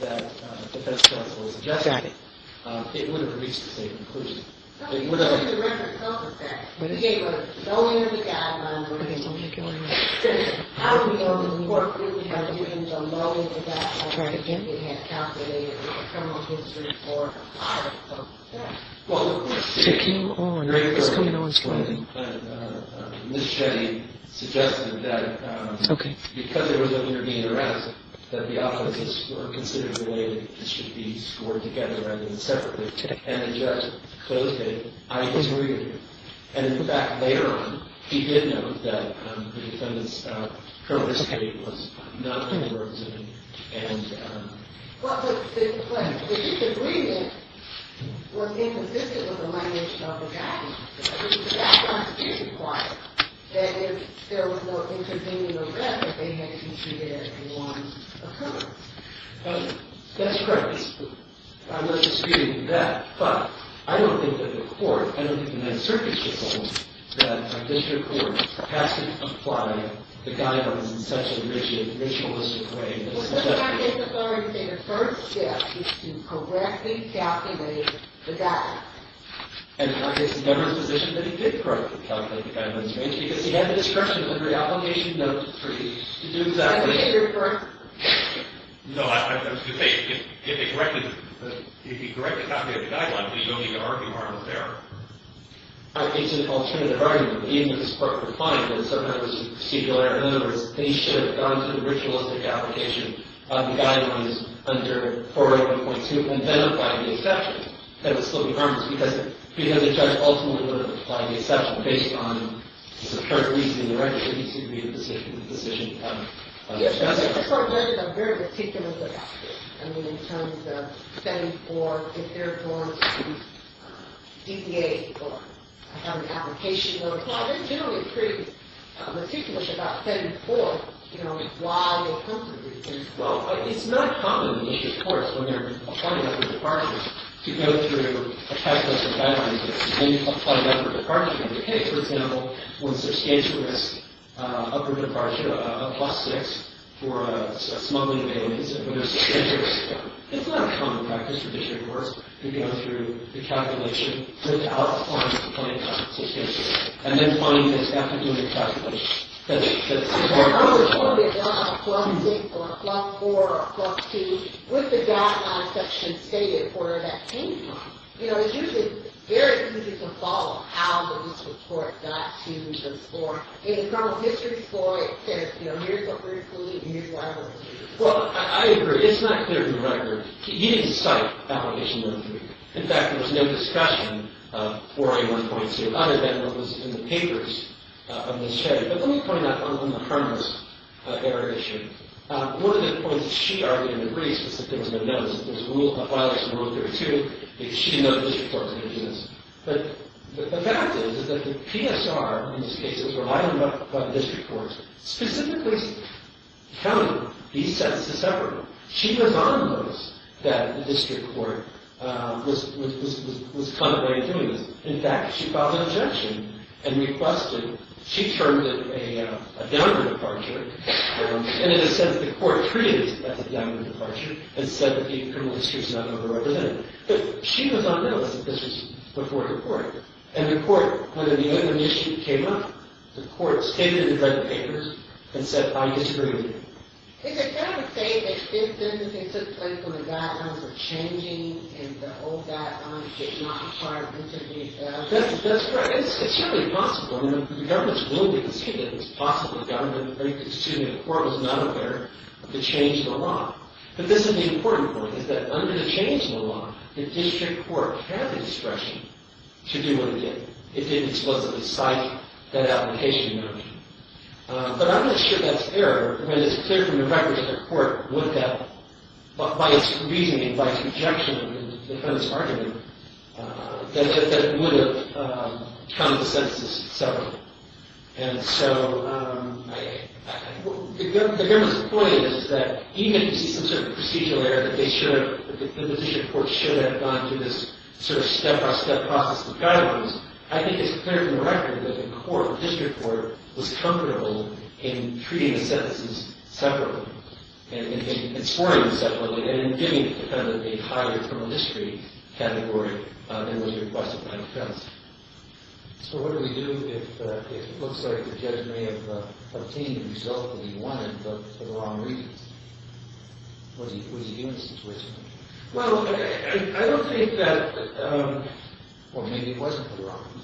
that the defense counsel suggested, it would have reached the same conclusion. It would have. But you didn't make a self-assessment. What did I say? You gave us so many guidelines. Okay, don't make it one more. How do we go to the court really by doing so little to that? Try it again. We had calculated the criminal history for a lot of folks. Yeah. Well, the worst case... Take him on. It's coming on slowly. Ms. Shetty suggested that... Okay. Because there was an intervening arrest, that the offenses were considered in a way that this should be scored together rather than separately, and the judge closed it by his reading. And in fact, later on, he did note that the defendant's criminal history was not in the words of the... And... That was the best constitution, why? That if there was no intervening arrest, that they had to treat it as a one-off. That's correct. I was disputing that, but I don't think that the court, I don't think the United States District Court, that a district court has to apply the guidelines in such a rigid, ritualistic way. Well, because I guess it's already said, the first step is to correctly calculate the guidelines. And in fact, it's never the position that he did correctly calculate the guidelines, because he had the discretion under the application no. 3 to do exactly that. I think you're correct. No, I was going to say, if he corrected... If he corrected something in the guidelines, he's only going to argue harmless there. I think it's an alternative argument. Even if it's perfectly fine, but sometimes it's just a particular... In other words, he should have gone to the ritualistic application of the guidelines under 480.2 and then applied the exceptions. That would still be harmless, because the judge ultimately would have applied the exception based on the current reason in the record. It needs to be the decision of the judge. Yes, but I think the court judges are very meticulous about this. I mean, in terms of setting forth if there belongs to DBA or an application, they'll apply. They're generally pretty meticulous about setting forth why they'll come to the district court. Well, it's not common in district courts, when they're applying upper departure, to go through a checklist of guidelines and then apply upper departure. In the case, for example, when substantial risk upper departure, a plus 6 for a smuggling of aliens, when there's substantial risk... It's not a common practice for district courts to go through the calculation without applying to the point of substantial risk, and then find this after doing the calculation. I was wondering about a plus 6, or a plus 4, or a plus 2, with the guidelines that's been stated for that time. You know, it's usually very easy to follow how the district court got to those four. In the criminal history floor, it says, you know, here's what we're including, and here's what I want to include. Well, I agree. It's not clear from the record. He didn't cite application number 3. In fact, there was no discussion of 4A1.2, other than what was in the papers on this day. But let me point out, on the harmless error issue, one of the points she argued in the briefs was that there was no notice that there was a violation of Rule 32, because she didn't know the district court was going to do this. But the fact is that the PSR, in these cases, were lined up by the district courts. Specifically, the county, he said this is separate. She was on notice that the district court was contemplating doing this. In fact, she filed an objection and requested, she termed it a downward departure. And in a sense, the court treated it as a downward departure and said that the criminal history was not going to represent it. But she was on notice that this was before the court. And the court, when the other issue came up, the court stated it in the red papers and said, I disagree with you. Is it fair to say that symptoms that took place when the guidelines were changing and that all of that is not part of this? That's correct. It's certainly possible. I mean, the government's willing to concede that it's possible. The government is very conceding. The court was not aware of the change in the law. But this is the important point, is that under the change in the law, the district court had the discretion to do what it did. It didn't supposedly cite that application in their opinion. But I'm not sure that's error. I mean, it's clear from the records that the court, by its reasoning, by its objection and the defendant's argument, that it would have come to sentences separately. And so the government's point is that even if you see some sort of procedural error, that the position of the court should have gone through this sort of step-by-step process of guidelines, I think it's clear from the record that the court, the district court, was comfortable in treating the sentences separately and scoring them separately and giving the defendant a higher criminal history category than was requested by the defense. So what do we do if it looks like the judge may have obtained the result that he wanted but for the wrong reasons? Was he innocent to which point? Well, I don't think that, well, maybe he wasn't for the wrong reasons.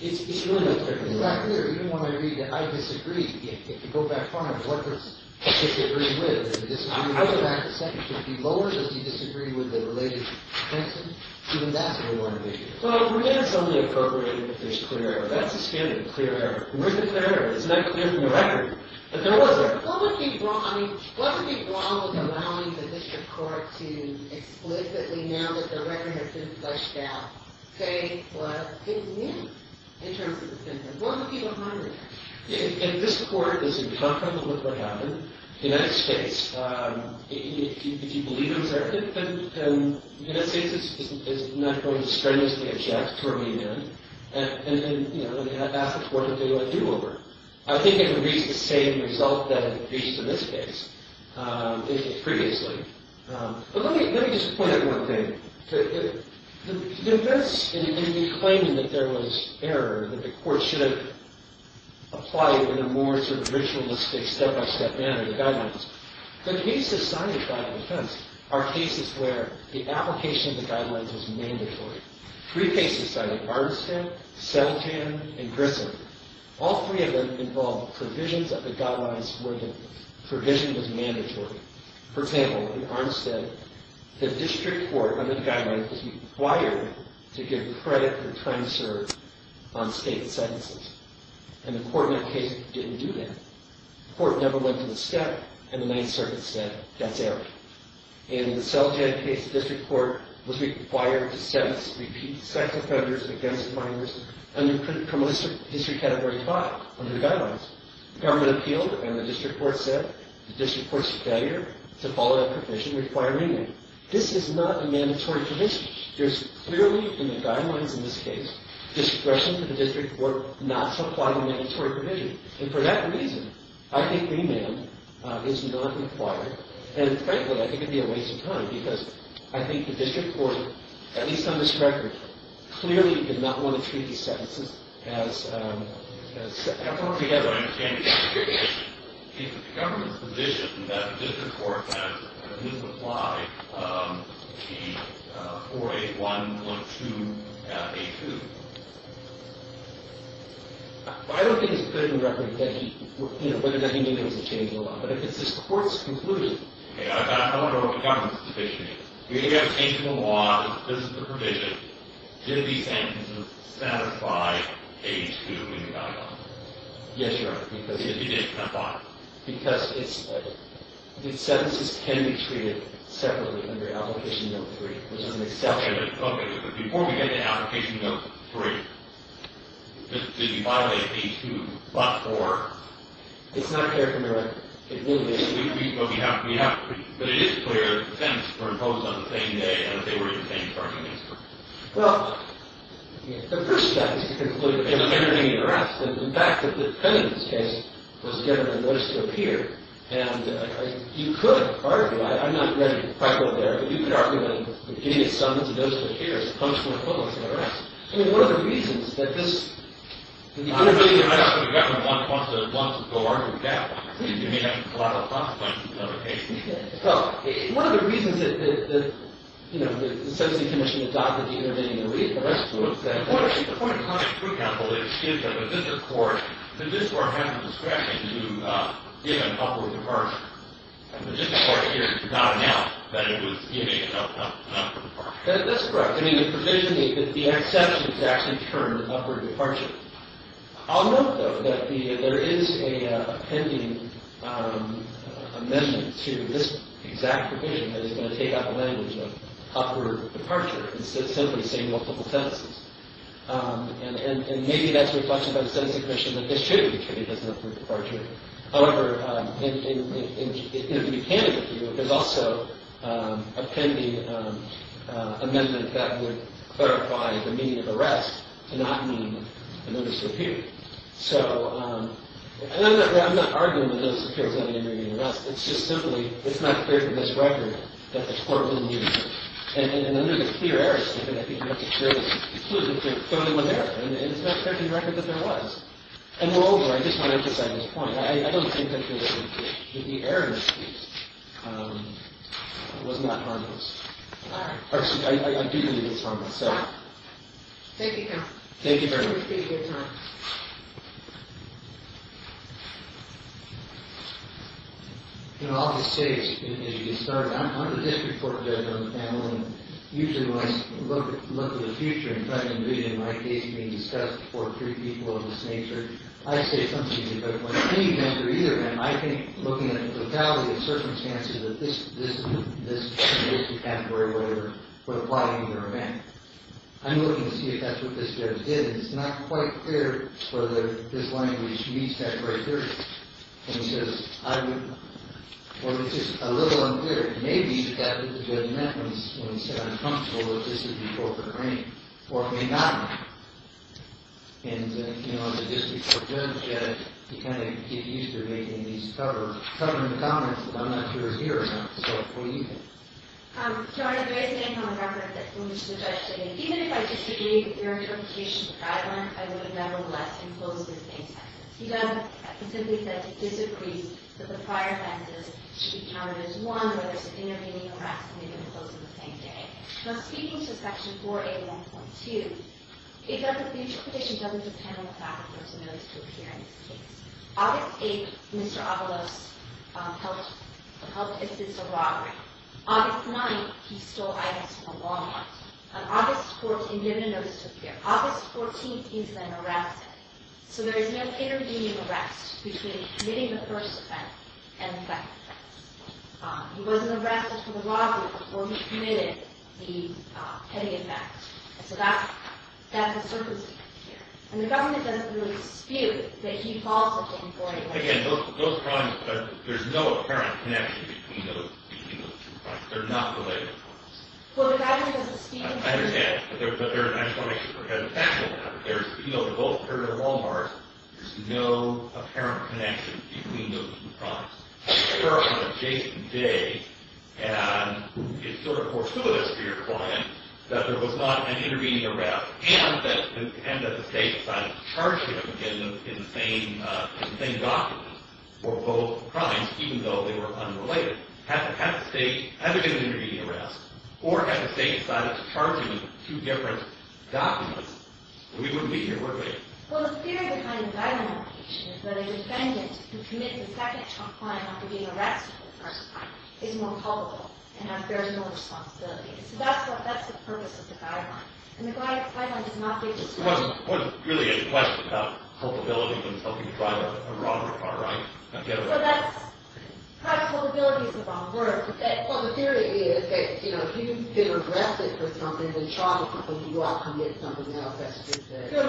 It's really clear. It's really clear. Even when I read that I disagree. If you go back to the sentence, would it be lower? Does he disagree with the related sentence? Even that's what we want to make sure. Well, we're going to suddenly appropriate it if there's clear error. That's the standard, clear error. Where's the clear error? It's not clear from the record. But there was a clear error. What would be wrong with allowing the district court to explicitly, now that the record has been flushed out, say what his name is in terms of the sentence? What would be behind that? If this court is in conflict with what happened, the United States, if you believe him, then the United States is not going to strenuously object to what he did. And ask the court to do a do-over. I think it would reach the same result that it reached in this case previously. But let me just point out one thing. The defense, in claiming that there was error, that the court should have applied in a more ritualistic, step-by-step manner, the guidelines. The cases cited by the defense are cases where the application of the guidelines was mandatory. Three cases cited, Armistead, Seltan, and Grissom. All three of them involved provisions of the guidelines where the provision was mandatory. For example, in Armistead, the district court, under the guidelines, was required to give credit for trying to serve on state sentences. And the court in that case didn't do that. The court never went to the step, and the Ninth Circuit said, that's error. In the Seltan case, the district court was required to sentence repeat sex offenders against minors under criminal history category 5, under the guidelines. The government appealed, and the district court said, the district court's failure to follow that provision required remand. This is not a mandatory provision. There's clearly, in the guidelines in this case, discretion for the district court not to apply the mandatory provision. And for that reason, I think remand is not required. And frankly, I think it would be a waste of time, because I think the district court, at least on this record, clearly did not want to treat these sentences as separate or together. I don't understand your question. Is it the government's position that the district court has refused to apply the 481.2.82? I don't think it's written record that he, you know, whether or not he knew there was a change in the law. But if it's this court's conclusion. I don't know what the government's position is. If you have a change in the law, this is the provision. Did these sentences satisfy page 2 in the guidelines? Yes, Your Honor. If you did, then why? Because the sentences can be treated separately under application no. 3. There's an exception. OK. But before we get to application no. 3, did you violate page 2, but for? It's not clear from the record. But we have to. But it is clear that the sentences were imposed on the same day, and that they were in the same parking space. Well, the first step is to conclude that there was an intervening arrest. In fact, that the pending case was given a notice to appear. And you could argue, I'm not ready to fight over there, but you could argue that giving a summons to those who appear is a punctual equivalent to an arrest. I mean, one of the reasons that this. I don't think the government wants to go argue that. You may have a lot of consequences on the case. Well, one of the reasons that the sentencing commission adopted the intervening arrest was that. The point of having a true counsel is that the district court has the discretion to give an upward departure. And the district court did not announce that it was giving an upward departure. That's correct. I mean, the provision that the exception is actually termed upward departure. I'll note, though, that there is a pending amendment to this exact provision that is going to take up the language of upward departure, instead of simply saying multiple sentences. And maybe that's reflected by the sentencing commission that this should be treated as an upward departure. However, if you can't argue, there's also a pending amendment that would clarify the meaning of arrest to not mean a notice of appeal. So I'm not arguing that notice of appeal is not an intervening arrest. It's just simply, it's not clear from this record that the court will use it. And under the clear error statement, I think notice of appeal is exclusive to the only one there. And it's not clear from the record that there was. And we're over. I just want to emphasize this point. I don't think that the error in this case was not harmless. I do believe it's harmless. Thank you, counsel. Thank you very much. This was a good time. In all the states, I'm a district court judge on the panel. And usually, when I look at the future and try to envision my case being discussed before three people of this nature, I say something to the point. Any judge or either of them, I think, looking at the totality of circumstances that this category would apply either way. I'm looking to see if that's what this judge did. And it's not quite clear whether this language meets that criteria. And he says, I would, well, it's just a little unclear. It may be that the judge meant when he said, I'm comfortable that this is before the hearing. Or it may not be. And, you know, the district court judge had to kind of get used to making these stubborn comments that I'm not sure is here or not. So what do you think? Your Honor, based on the record that the judge gave, even if I disagreed with your interpretation of the guideline, I would have nevertheless imposed the same sentence. He doesn't. He simply said he disagrees that the prior sentences should be counted as one where there's an intervening arrest and they're going to close on the same day. Now, speaking to Section 481.2, it doesn't, the future petition doesn't depend on the fact that there's a notice to appear in this case. August 8th, Mr. Avalos helped assist a robbery. August 9th, he stole items from a Walmart. On August 14th, he didn't get a notice to appear. August 14th, he was then arrested. So there is no intervening arrest between committing the first offense and the second offense. He wasn't arrested for the robbery before he committed the petty offense. So that's a circumstance here. And the government doesn't really dispute that he called Section 481. Again, those crimes, there's no apparent connection between those two crimes. They're not related to us. Well, the government doesn't speak to them. I understand. I just want to make sure we have the facts on that. There's, you know, they're both, they're in their Walmarts. There's no apparent connection between those two crimes. They're on an adjacent day, and it's sort of fortuitous for your client that there was not an intervening arrest and that the state decided to charge him in the same document for both crimes, even though they were unrelated. Had the state, had there been an intervening arrest, or had the state decided to charge him in two different documents, we wouldn't be here today. Well, the theory behind the guideline location is that a defendant who commits the second crime after being arrested for the first crime is more culpable and has very little responsibility. So that's the purpose of the guideline. And the guideline does not dispute that. It wasn't really a question about culpability in helping to drive a robber car, right? So that's, probably culpability is a wrong word. Well, the theory is that, you know, if you've been arrested for something, then you're charged with something, you do have to commit something, you know, if that's what you say. And so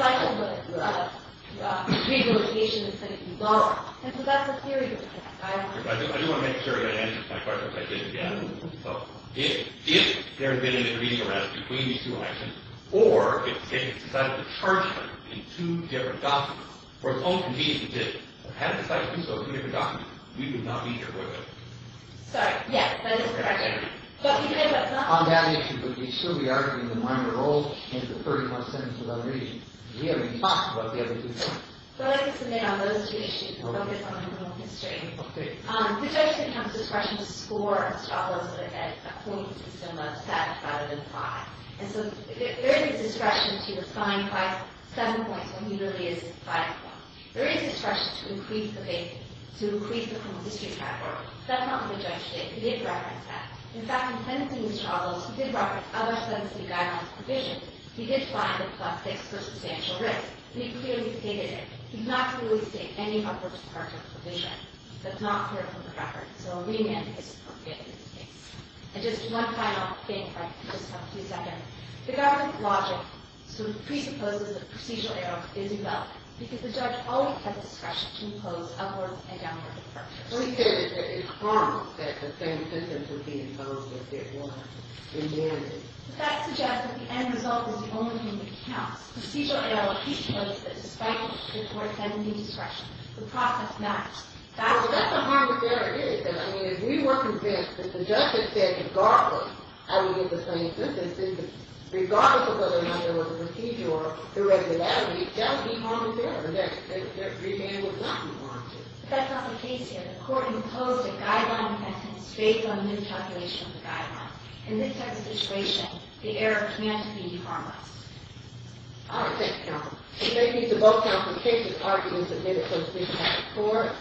that's the theory. I do want to make sure that answers my question, because I didn't get it. So, if there had been an intervening arrest between these two actions, or if the state had decided to charge him in two different documents for his own convenience, or if the state had decided to do so in a different document, we would not be here today. Sorry, yes, that is correct. But you know what's not? On that issue, but we should be arguing the minor role in the 31st sentence of our reading. We haven't talked about the other two points. So I'd like to submit on those two issues, and focus on criminal history. Okay. The judge can have discretion to score a stop loss at a point that's a similar set rather than five. And so there is discretion to assign five, seven points when he really is fighting one. There is discretion to increase the basis, to increase the criminal history travel. But that's not what the judge did. He did reference that. In fact, in sentencing these charges, he did reference other sentencing guidelines provision. He did find that plus six was a substantial risk. He clearly stated it. He did not clearly state any upward departure provision. That's not clear from the reference. So a remand is appropriate in this case. And just one final thing, if I could just have a few seconds. The government logic presupposes that procedural error is involved, because the judge always has discretion to impose upward and downward departures. But he said that it's wrong that the same sentence would be imposed if there was a remand. But that suggests that the end result is the only thing that counts. Procedural error, he supposes, despite the court sending the discretion. The process maps. Well, that's as hard as there is. I mean, if we were convinced that the judge had said, regardless, I would get the same sentence, regardless of whether or not there was a procedural error, the regularity, that would be harmless error. That remand would not be harmful. But that's not the case here. The court imposed a guideline sentence based on a new calculation of the guideline. In this type of situation, the error can't be harmless. All right. Thank you, Your Honor. We thank you to both counsel's cases. Arguments have been opposed. This has been a matter for the court.